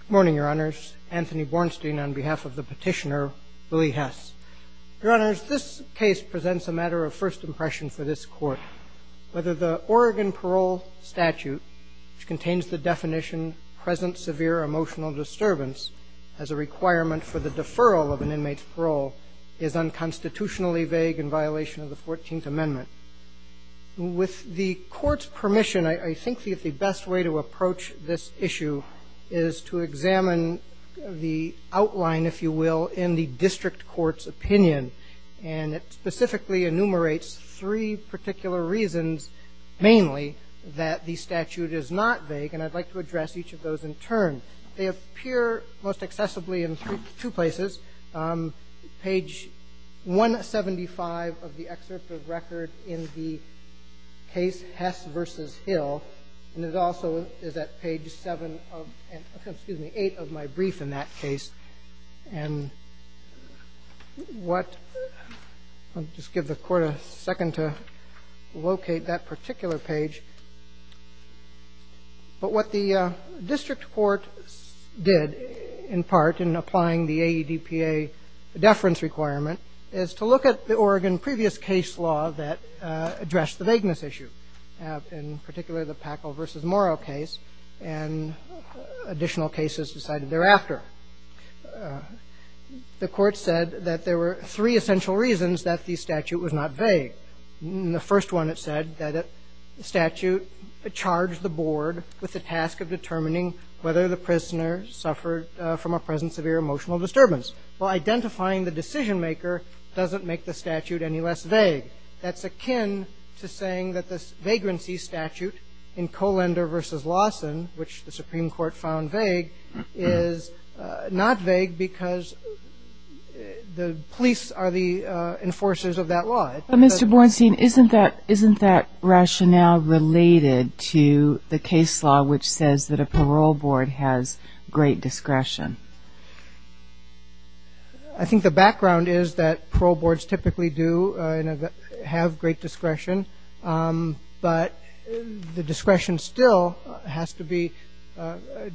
Good morning, Your Honors. Anthony Bornstein on behalf of the petitioner, Willie Hess. Your Honors, this case presents a matter of first impression for this Court, whether the Oregon Parole statute, which contains the definition, present severe emotional disturbance, as a requirement for the deferral of an inmate's parole, is unconstitutionally vague in violation of the 14th Amendment. With the Court's permission, I think the best way to approach this issue is to examine the outline, if you will, in the District Court's opinion, and it specifically enumerates three particular reasons, mainly, that the statute is not vague, and I'd like to address each of those in turn. They appear most accessibly in two places, page 175 of the excerpt of record in the case Hess v. Hill, and it also is at page 7, excuse me, 8 of my brief in that case. And what, I'll just give the Court a second to locate that particular page, but what the District Court did, in part, in applying the AEDPA deference requirement, is to look at the Oregon previous case law that addressed the vagueness issue, in particular, the Packle v. Morrow case, and additional cases decided thereafter. The Court said that there were three essential reasons that the statute was not vague. One is that the statute charged the board with the task of determining whether the prisoner suffered from a present severe emotional disturbance. Well, identifying the decision-maker doesn't make the statute any less vague. That's akin to saying that the vagrancy statute in Kollender v. Lawson, which the Supreme Court found vague, is not vague because the police are the enforcers of that law. But, Mr. Bornstein, isn't that rationale related to the case law which says that a parole board has great discretion? I think the background is that parole boards typically do have great discretion, but the discretion still has to be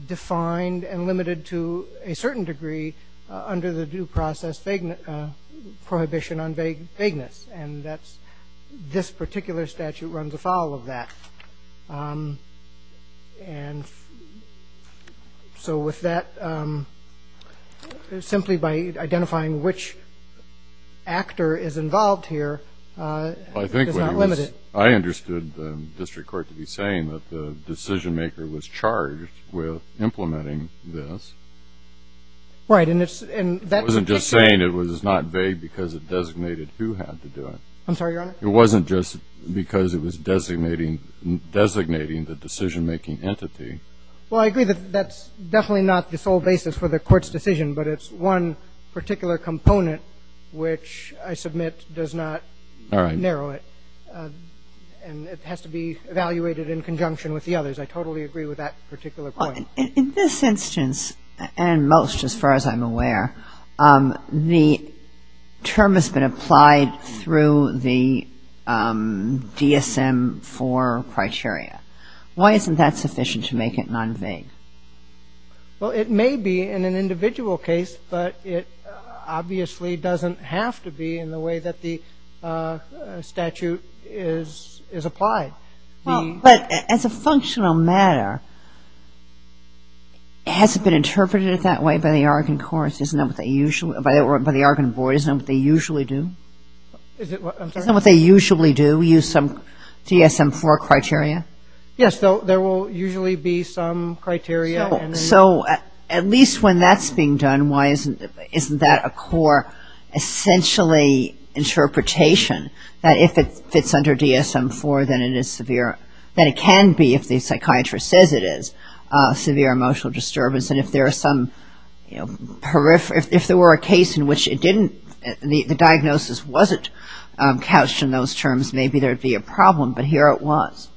defined and limited to a certain degree under the due process prohibition on vagueness, and that's not the case. And this particular statute runs afoul of that. And so with that, simply by identifying which actor is involved here, it's not limited. I understood the district court to be saying that the decision-maker was charged with implementing this. Right. I'm sorry, Your Honor? It wasn't just because it was designating the decision-making entity. Well, I agree that that's definitely not the sole basis for the court's decision, but it's one particular component which, I submit, does not narrow it. And it has to be evaluated in conjunction with the others. I totally agree with that particular point. In this instance, and most as far as I'm aware, the term has been applied through the DSM-IV criteria. Why isn't that sufficient to make it non-vague? Well, it may be in an individual case, but it obviously doesn't have to be in the way that the statute is applied. But as a functional matter, has it been interpreted that way by the Argonne courts? By the Argonne board, isn't that what they usually do? Use some DSM-IV criteria? Yes, there will usually be some criteria. So at least when that's being done, isn't that a core, essentially, interpretation? That it can be, if the psychiatrist says it is, severe emotional disturbance. And if there were a case in which the diagnosis wasn't couched in those terms, maybe there would be a problem, but here it was.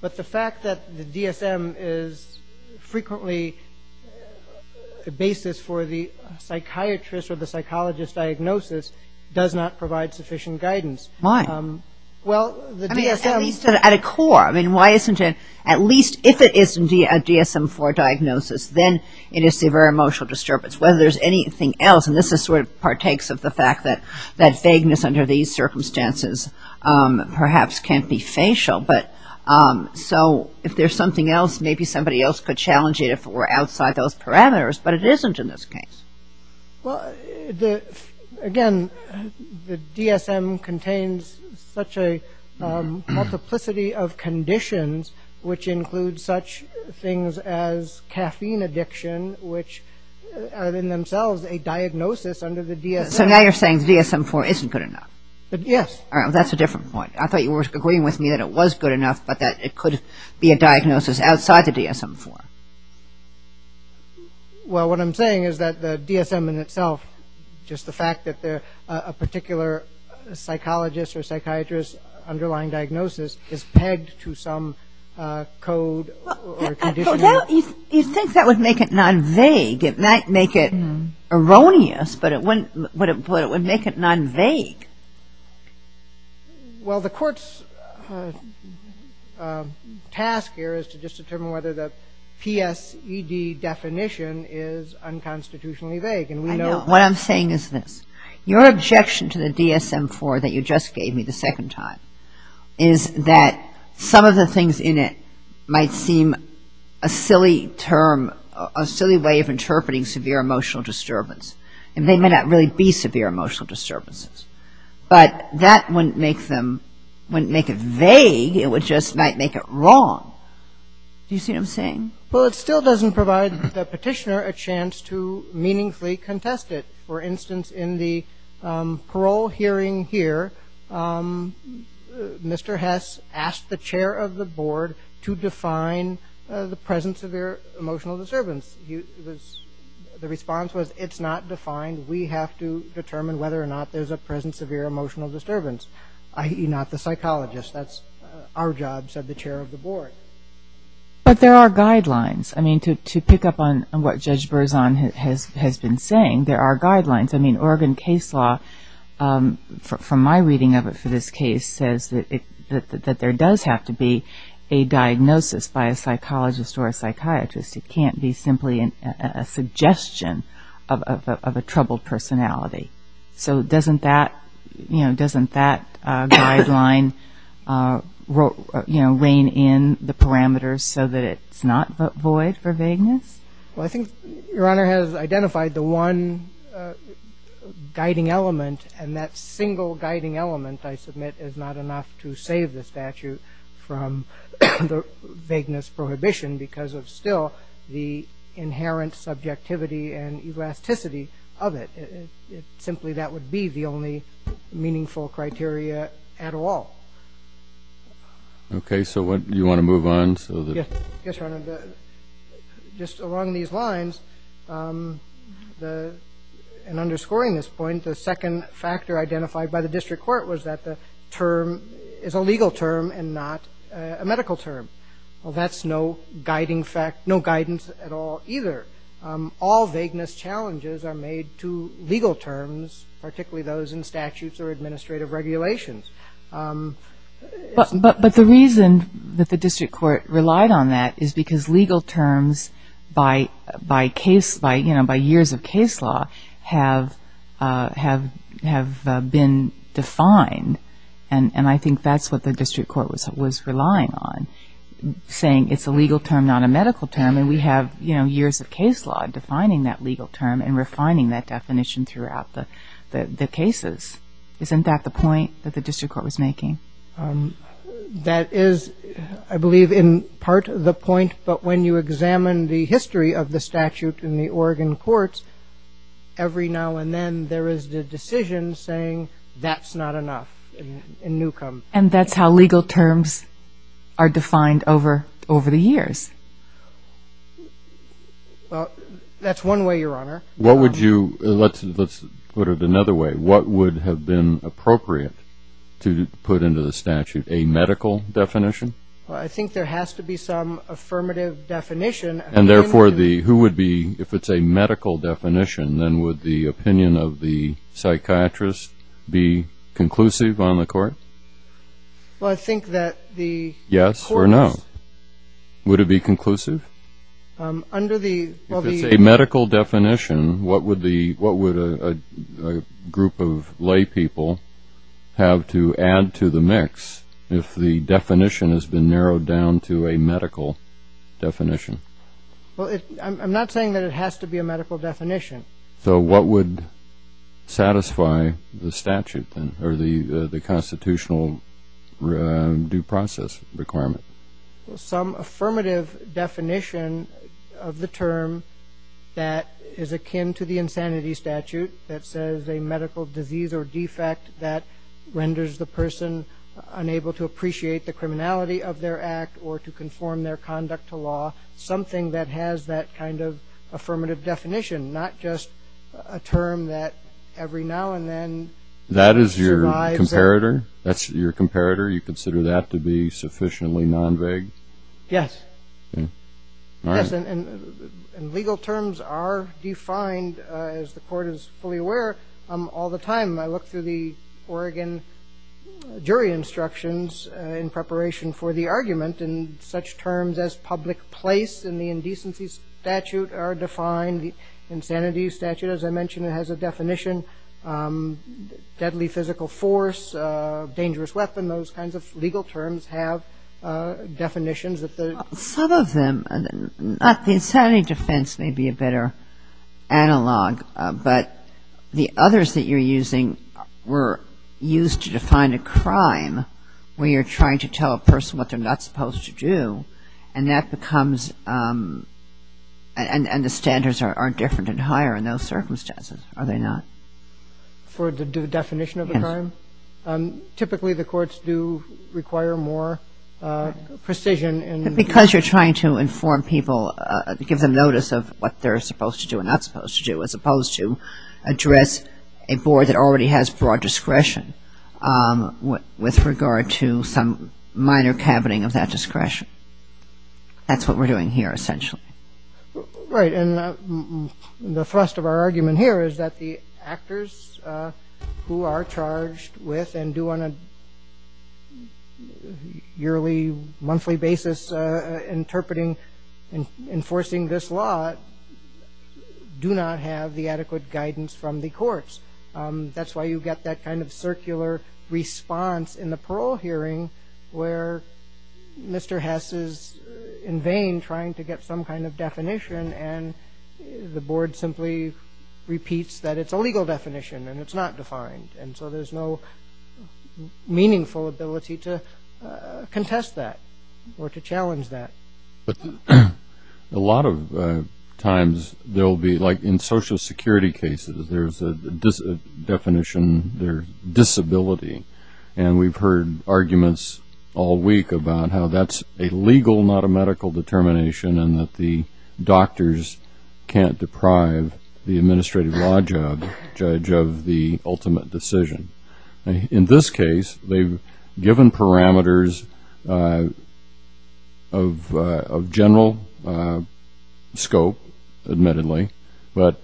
But the fact that the DSM is frequently a basis for the psychiatrist or the psychologist's diagnosis does not provide sufficient guidance. Why? At least if it is a DSM-IV diagnosis, then it is severe emotional disturbance. Whether there's anything else, and this sort of partakes of the fact that vagueness under these circumstances perhaps can't be facial. So if there's something else, maybe somebody else could challenge it if it were outside those parameters, but it isn't in this case. Well, again, the DSM contains such a multiplicity of conditions, which include such things as caffeine addiction, which are in themselves a diagnosis under the DSM. So now you're saying the DSM-IV isn't good enough? Yes. That's a different point. I thought you were agreeing with me that it was good enough, but that it could be a diagnosis outside the DSM-IV. Well, what I'm saying is that the DSM in itself, just the fact that a particular psychologist or psychiatrist's underlying diagnosis is pegged to some code or condition. You think that would make it non-vague. It might make it erroneous, but it would make it non-vague. Well, the court's task here is to just determine whether the psychiatrist or the psychiatrist is a good enough diagnosis to make it non-vague. The PSED definition is unconstitutionally vague, and we know that. What I'm saying is this. Your objection to the DSM-IV that you just gave me the second time is that some of the things in it might seem a silly term, a silly way of interpreting severe emotional disturbance, and they may not really be severe emotional disturbances, but that wouldn't make them, wouldn't make it vague, it would just make it wrong. Do you see what I'm saying? Well, it still doesn't provide the petitioner a chance to meaningfully contest it. For instance, in the parole hearing here, Mr. Hess asked the chair of the board to define the present severe emotional disturbance. The response was, it's not defined. We have to determine whether or not there's a present severe emotional disturbance, i.e., not the psychologist. That's our job, said the chair of the board. But there are guidelines. I mean, to pick up on what Judge Berzon has been saying, there are guidelines. I mean, Oregon case law, from my reading of it for this case, says that there does have to be a diagnosis by a psychologist or a psychiatrist. It can't be simply a suggestion of a troubled personality. So doesn't that, you know, doesn't that guideline, you know, rein in the parameters so that it's not void for vagueness? Well, I think Your Honor has identified the one guiding element, and that single guiding element, I submit, is not enough to save the statute from the vagueness prohibition because of still the inherent subjectivity and elasticity of it. Simply that would be the only meaningful criteria at all. Okay, so what, do you want to move on so that? Yes, Your Honor, just along these lines, and underscoring this point, the second factor identified by the district court was that the term is a legal term and not a medical term. Well, that's no guiding fact, no guidance at all either. All vagueness challenges are made to legal terms, particularly those in statutes or administrative regulations. But the reason that the district court relied on that is because legal terms by, you know, by years of case law have been defined. And I think that's what the district court was relying on, saying it's a legal term, not a medical term. And we have, you know, years of case law defining that legal term and refining that definition throughout the cases. Isn't that the point that the district court was making? That is, I believe, in part the point, but when you examine the history of the statute in the Oregon courts, every now and then there is the decision saying that's not enough in newcome. And that's how legal terms are defined over the years. Well, that's one way, Your Honor. What would you, let's put it another way, what would have been appropriate to put into the statute, a medical definition? Well, I think there has to be some affirmative definition. And therefore, who would be, if it's a medical definition, then would the opinion of the psychiatrist be conclusive on the court? Well, I think that the courts... Yes or no? Would it be conclusive? Under the... If it's a medical definition, what would a group of laypeople have to add to the mix if the definition has been narrowed down to a medical definition? Well, I'm not saying that it has to be a medical definition. So what would satisfy the statute then, or the constitutional due process requirement? Some affirmative definition of the term that is akin to the insanity statute that says a medical disease or defect that renders the person unable to appreciate the criminality of their act or to conform their conduct to law. Something that has that kind of affirmative definition, not just a term that every now and then survives... That is your comparator? That's your comparator? You consider that to be sufficiently non-vague? Yes. Yes, and legal terms are defined, as the court is fully aware, all the time. I look through the Oregon jury instructions in preparation for the argument, and such terms as public place and the indecency statute are defined. The insanity statute, as I mentioned, has a definition. Deadly physical force, dangerous weapon, those kinds of legal terms have definitions that the... Some of them. The insanity defense may be a better analog, but the others that you're using were used to define a crime where you're trying to tell a person what they're not supposed to do, and that becomes... And the standards are different and higher in those circumstances, are they not? For the definition of the crime? Yes. Typically, the courts do require more precision in... Because you're trying to inform people, give them notice of what they're supposed to do and not supposed to do, as opposed to address a board that already has broad discretion with regard to some minor cabining of that discretion. That's what we're doing here, essentially. Right, and the thrust of our argument here is that the actors who are charged with, and do on a yearly, monthly basis, interpreting, enforcing this law, do not have the adequate guidance from the courts. That's why you get that kind of circular response in the parole hearing, where Mr. Hess is in vain trying to get some kind of guidance from the courts. And the board simply repeats that it's a legal definition, and it's not defined, and so there's no meaningful ability to contest that, or to challenge that. But a lot of times, there'll be, like in Social Security cases, there's a definition, there's disability, and we've heard arguments all week about how that's a legal, not a medical determination, and that the doctors can't deprive the administrative law judge of the ultimate decision. In this case, they've given parameters of general scope, admittedly, but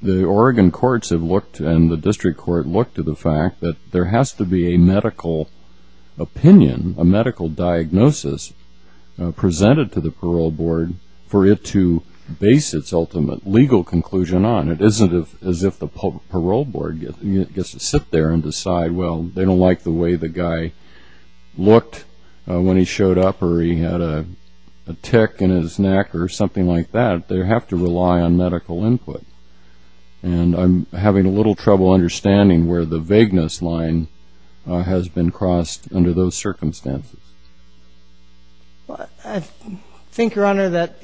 the Oregon courts have looked, and the district court looked, to the fact that there has to be a medical opinion, a medical diagnosis, presented to the parole hearing. And it's up to the parole board, for it to base its ultimate legal conclusion on. It isn't as if the parole board gets to sit there and decide, well, they don't like the way the guy looked when he showed up, or he had a tick in his neck, or something like that. They have to rely on medical input. And I'm having a little trouble understanding where the vagueness line has been crossed under those circumstances. I think, Your Honor, that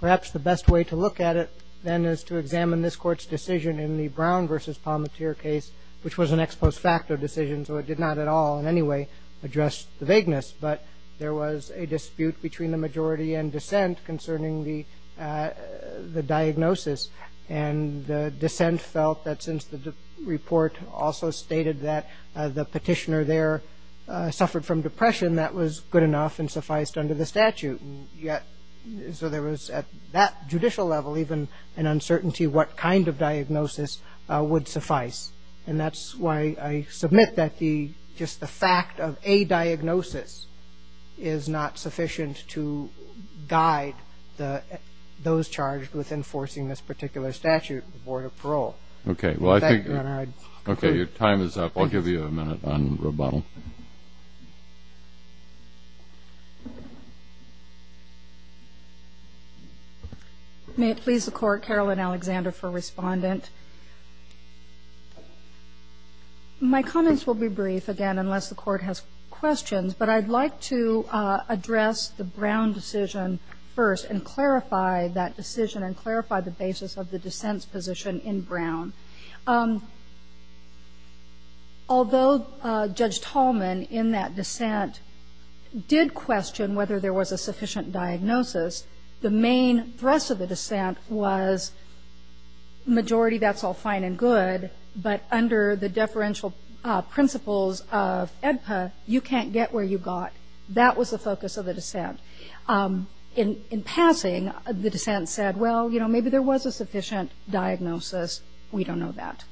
perhaps the best way to look at it, then, is to examine this court's decision in the Brown v. Palmateer case, which was an ex post facto decision, so it did not at all, in any way, address the vagueness. But there was a dispute between the majority and dissent concerning the diagnosis, and the dissent felt that since the report also stated that the petitioner there suffered from depression, that was good enough and sufficed under the statute. Yet, so there was, at that judicial level, even an uncertainty what kind of diagnosis would suffice. And that's why I submit that just the fact of a diagnosis is not sufficient to guide those charged with enforcing this particular statute in the Board of Parole. May it please the Court, Caroline Alexander for Respondent. My comments will be brief, again, unless the Court has questions, but I'd like to address the Brown decision first, and clarify that decision, and clarify the basis of the dissent's position in Brown. Although Judge Tallman, in that dissent, did question whether there was a sufficient diagnosis, the main thrust of the dissent was, majority, that's all fine and good, but under the deferential principles of EDPA, you can't get where you got. That was the focus of the dissent. In passing, the dissent said, well, you know, maybe there was a sufficient diagnosis, we don't know that.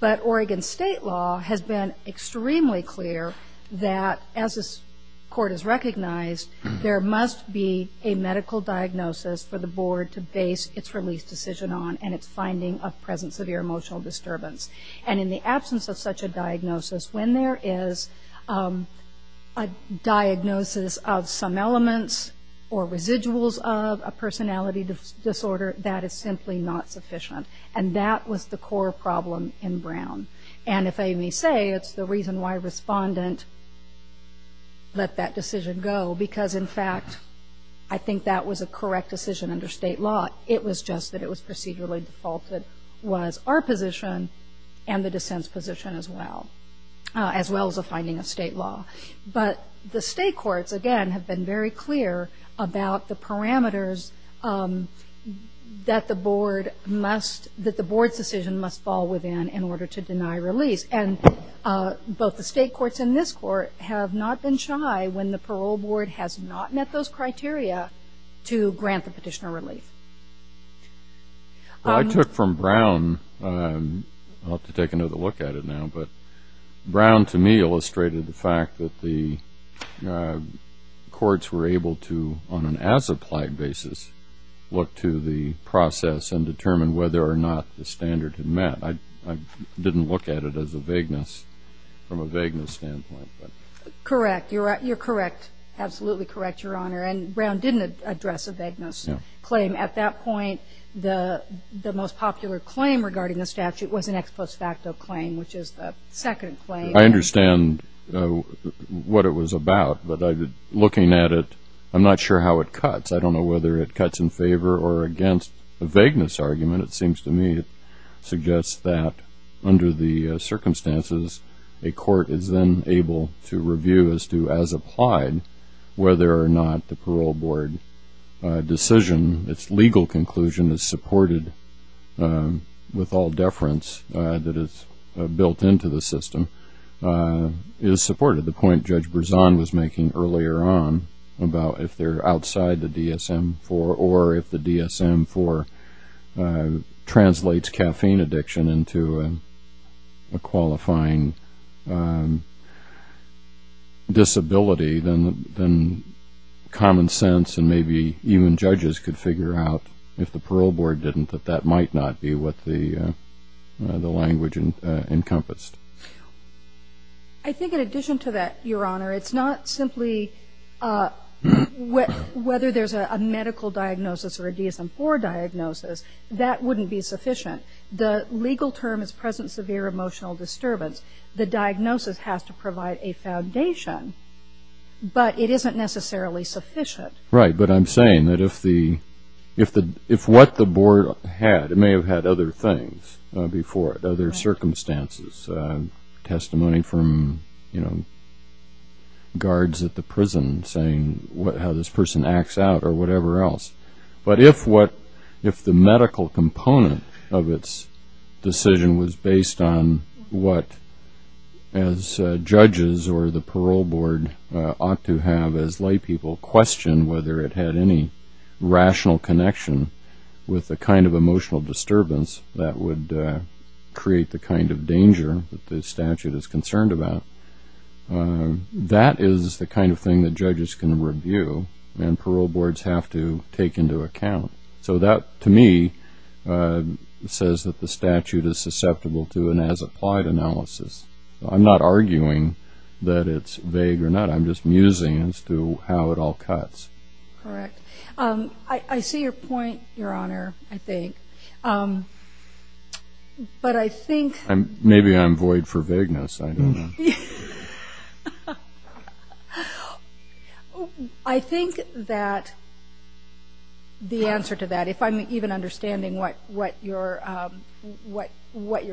But Oregon state law has been extremely clear that, as this Court has recognized, there must be a medical diagnosis for the Board to base its release decision on, and its finding of present severe emotional disturbance. And in the absence of such a diagnosis, when there is a diagnosis of some element of depression, that's not sufficient. Or residuals of a personality disorder, that is simply not sufficient, and that was the core problem in Brown. And if I may say, it's the reason why Respondent let that decision go, because in fact, I think that was a correct decision under state law. It was just that it was procedurally defaulted, was our position, and the dissent's position as well. As well as the finding of state law. But the state courts, again, have been very clear about the parameters that the Board must, that the Board's decision must fall within in order to deny release. And both the state courts and this Court have not been shy, when the parole board has not met those criteria, to grant the petitioner relief. I took from Brown, I'll have to take another look at it now. But Brown, to me, illustrated the fact that the courts were able to, on an as-applied basis, look to the process and determine whether or not the standard had met. I didn't look at it as a vagueness, from a vagueness standpoint. Correct. You're correct. Absolutely correct, Your Honor. And Brown didn't address a vagueness claim. At that point, the most popular claim regarding the statute was an ex post facto claim, which is the second claim. I understand what it was about, but looking at it, I'm not sure how it cuts. I don't know whether it cuts in favor or against a vagueness argument. It seems to me it suggests that, under the circumstances, a court is then able to review as to, as applied, whether or not the parole board decision, its legal conclusion is supported with all deference that is built into the system, is supported. The point Judge Berzon was making earlier on, about if they're outside the DSM-IV, or if the DSM-IV translates caffeine addiction into a qualifying disability, then common sense and maybe even judges could figure out, if the parole board didn't, that that might not be what the language encompassed. I think in addition to that, Your Honor, it's not simply whether there's a medical diagnosis or a DSM-IV diagnosis. That wouldn't be sufficient. The legal term is present severe emotional disturbance. The diagnosis has to provide a foundation, but it isn't necessarily sufficient. Right, but I'm saying that if what the board had, it may have had other things before it, other circumstances. Testimony from guards at the prison saying how this person acts out or whatever else. But if the medical component of its decision was based on what the board had, as judges or the parole board ought to have as laypeople question whether it had any rational connection with the kind of emotional disturbance that would create the kind of danger that the statute is concerned about, that is the kind of thing that judges can review and parole boards have to take into account. So that, to me, says that the statute is susceptible to an as-applied analysis. I'm not arguing that it's vague or not. I'm just musing as to how it all cuts. Correct. I see your point, Your Honor, I think. But I think... I think that the answer to that, if I'm even understanding what your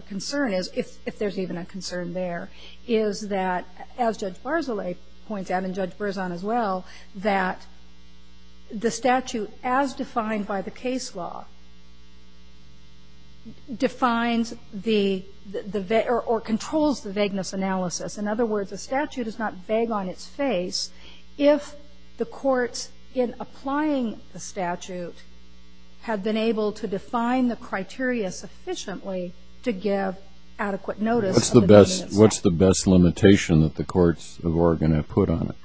concern is, if there's even a concern there, is that, as Judge Barzilay points out and Judge Berzon as well, that the statute, as defined by the case law, defines the, or controls the vagueness analysis. In other words, the statute is not vague on its face. If the courts, in applying the statute, had been able to define the criteria sufficiently to give adequate notice of the vagueness... What's the best limitation that the courts of Oregon have put on it?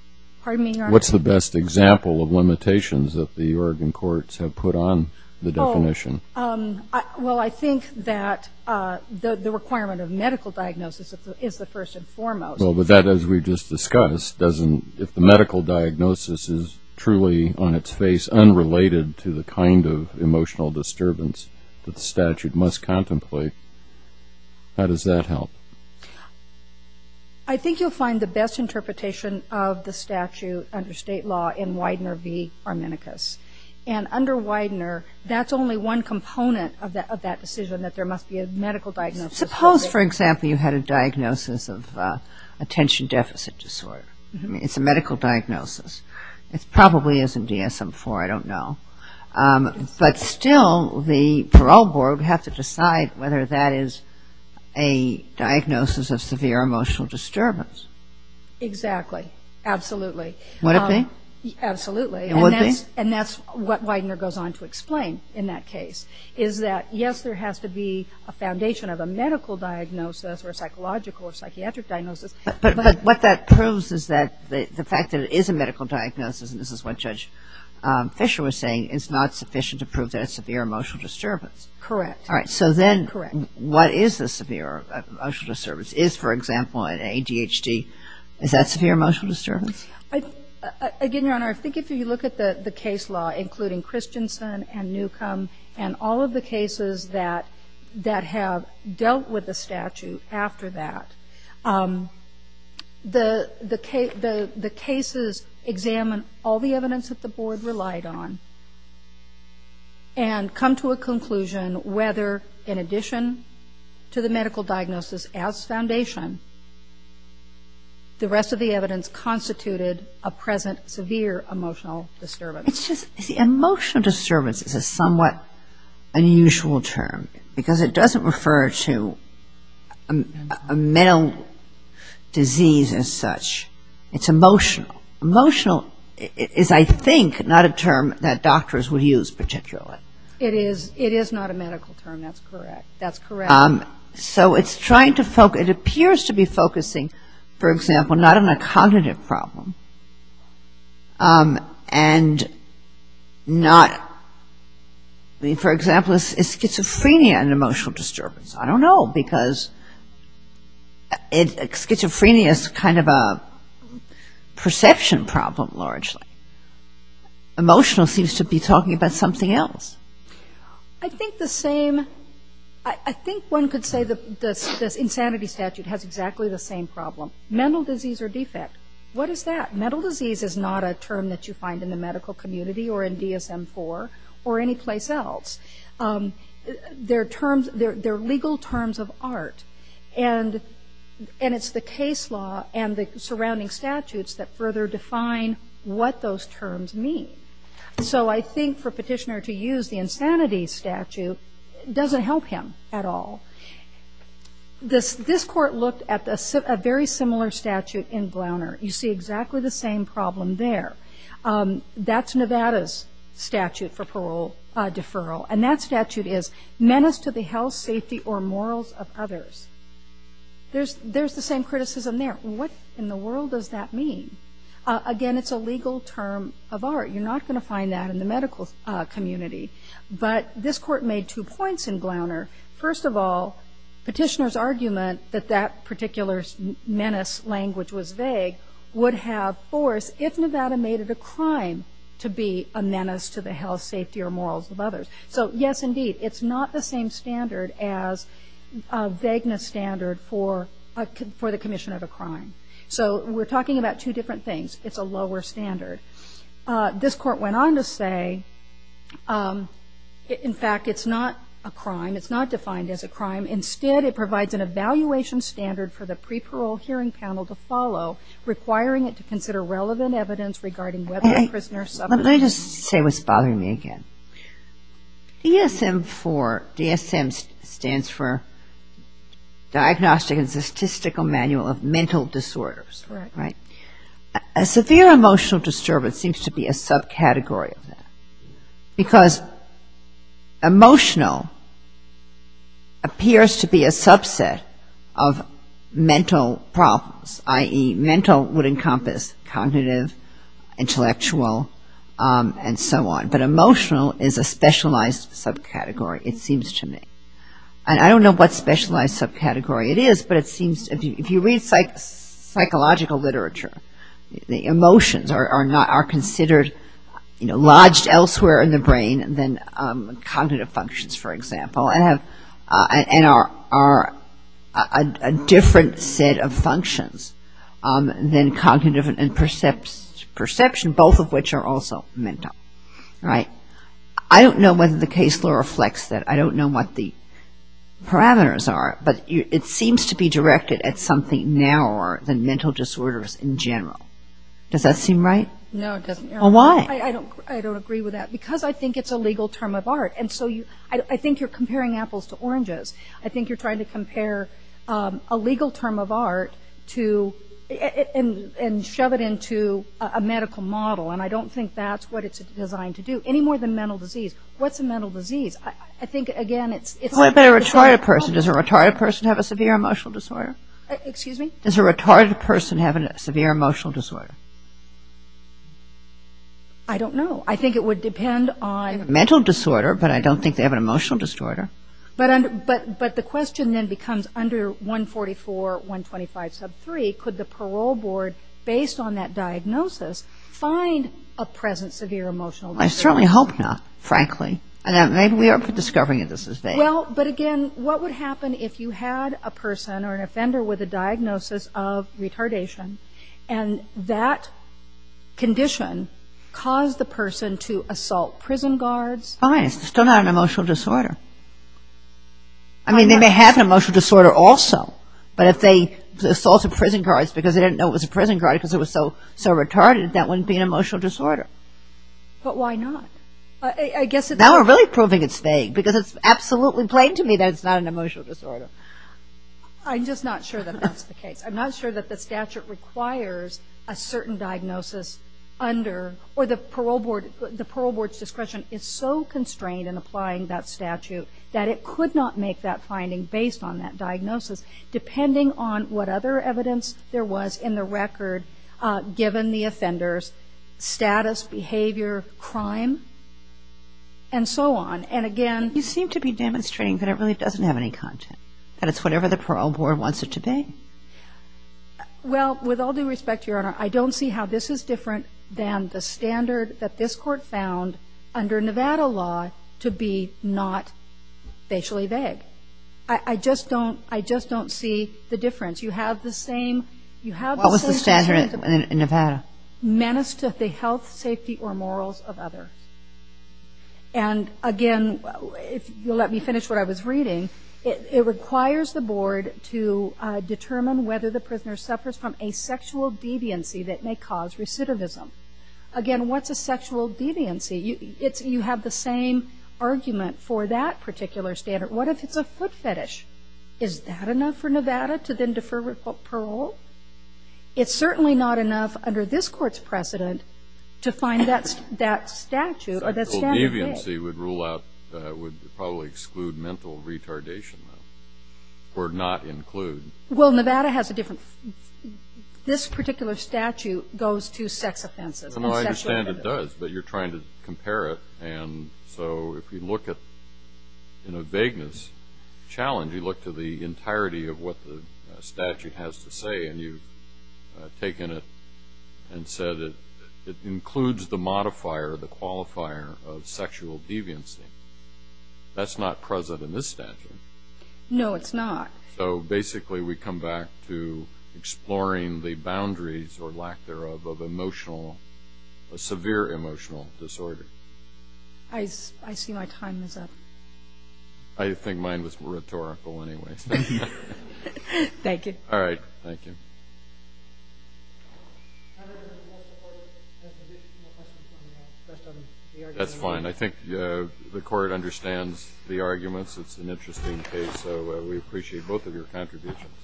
Pardon me, Your Honor? What's the best example of limitations that the Oregon courts have put on the definition? Well, I think that the requirement of medical diagnosis is the first and foremost. Okay. How does that help? I think you'll find the best interpretation of the statute under state law in Widener v. Arminicus. And under Widener, that's only one component of that decision, that there must be a medical diagnosis. Suppose, for example, you had a diagnosis of attention deficit disorder. It's a medical diagnosis. It probably isn't DSM-IV, I don't know. But still, the parole board would have to decide whether that is a diagnosis of severe emotional disturbance. Exactly. Absolutely. Would it be? Absolutely. And that's what Widener goes on to explain in that case, is that, yes, there has to be a foundation of a medical diagnosis or a psychological or psychiatric diagnosis. But what that proves is that the fact that it is a medical diagnosis, meaning it's not sufficient to prove that it's severe emotional disturbance. Correct. All right. So then what is the severe emotional disturbance? Is, for example, an ADHD, is that severe emotional disturbance? Again, Your Honor, I think if you look at the case law, including Christensen and Newcomb and all of the cases that have dealt with the statute after that, the cases examine all the evidence that the board relied on. And come to a conclusion whether, in addition to the medical diagnosis as foundation, the rest of the evidence constituted a present severe emotional disturbance. It's just, you see, emotional disturbance is a somewhat unusual term, because it doesn't refer to a mental disease as such. It's emotional. Emotional is, I think, not a term that doctors would use particularly. It is not a medical term. That's correct. It appears to be focusing, for example, not on a cognitive problem, and not, I mean, for example, is schizophrenia an emotional disturbance? I don't know, because schizophrenia is kind of a perception problem, largely. Emotional seems to be talking about something else. I think the same, I think one could say the insanity statute has exactly the same problem. Mental disease or defect. What is that? Mental disease is not a term that you find in the medical community or in DSM-IV or anyplace else. They're legal terms of art, and it's the case law and the surrounding statutes that further define what those terms mean. So I think for a petitioner to use the insanity statute doesn't help him at all. This court looked at a very similar statute in Glauner. You see exactly the same problem there. That's Nevada's statute for parole deferral, and that statute is menace to the health, safety, or morals of others. There's the same criticism there. What in the world does that mean? Again, it's a legal term of art. You're not going to find that in the medical community. But this court made two points in Glauner. First of all, petitioner's argument that that particular menace language was vague would have force if Nevada made it a crime to be a menace to the health, safety, or morals of others. So yes, indeed, it's not the same standard as a vagueness standard for the commission of a crime. So we're talking about two different things. It's a lower standard. In fact, it's not a crime. It's not defined as a crime. Instead, it provides an evaluation standard for the pre-parole hearing panel to follow, requiring it to consider relevant evidence regarding whether a prisoner suffered a menace. Let me just say what's bothering me again. DSM stands for Diagnostic and Statistical Manual of Mental Disorders. A severe emotional disturbance seems to be a subcategory of that. Because emotional appears to be a subset of mental problems, i.e., mental would encompass cognitive, intellectual, and so on. But emotional is a specialized subcategory, it seems to me. And I don't know what specialized subcategory it is, but if you read psychological literature, the emotions are considered lodged elsewhere in the brain than cognitive functions, for example, and are a different set of functions than cognitive and perception, both of which are also mental. All right. I don't know whether the case law reflects that. I don't know what the parameters are, but it seems to be directed at something narrower than mental disorders in general. Does that seem right? No, it doesn't. Well, why? I don't agree with that, because I think it's a legal term of art. And so I think you're comparing apples to oranges. I think you're trying to compare a legal term of art and shove it into a medical model, and I don't think that's what it's designed to do, any more than mental disease. What's a mental disease? I don't know. Mental disorder, but I don't think they have an emotional disorder. But the question then becomes under 144, 125 sub 3, could the parole board, based on that diagnosis, find a present severe emotional disorder? I certainly hope not, frankly. Maybe we are discovering that this is vague. Well, but again, what would happen if you had a person or an offender with a diagnosis of retardation, and that condition caused the person to assault prison guards? Fine. It's still not an emotional disorder. I mean, they may have an emotional disorder also, but if they assaulted prison guards because they didn't know it was a prison guard because it was so retarded, that wouldn't be an emotional disorder. But why not? Now we're really proving it's vague, because it's absolutely plain to me that it's not an emotional disorder. I'm just not sure that that's the case. I'm not sure that the statute requires a certain diagnosis under, or the parole board's discretion is so constrained in applying that statute that it could not make that finding based on that diagnosis, depending on what other evidence there was in the record, given the offender's status, behavior, crime, and so on. You seem to be demonstrating that it really doesn't have any content, that it's whatever the parole board wants it to be. Well, with all due respect, Your Honor, I don't see how this is different than the standard that this Court found under Nevada law to be not facially vague. I just don't see the difference. What was the standard in Nevada? And again, if you'll let me finish what I was reading, Again, what's a sexual deviancy? It's certainly not enough under this Court's precedent to find that statute or that standard vague. Sexual deviancy would rule out, would probably exclude mental retardation, though, or not include. Well, Nevada has a different, this particular statute goes to sex offenses. Well, I understand it does, but you're trying to compare it, and so if you look at, in a vagueness challenge, you look to the entirety of what the statute has to say, and you've taken it and said it includes the modifier, the qualifier of sexual deviancy, that's not present in this statute. No, it's not. So basically we come back to exploring the boundaries, or lack thereof, of emotional, a severe emotional disorder. I see my time is up. I think mine was rhetorical anyways. That's fine. I think the Court understands the arguments. It's an interesting case, so we appreciate both of your contributions.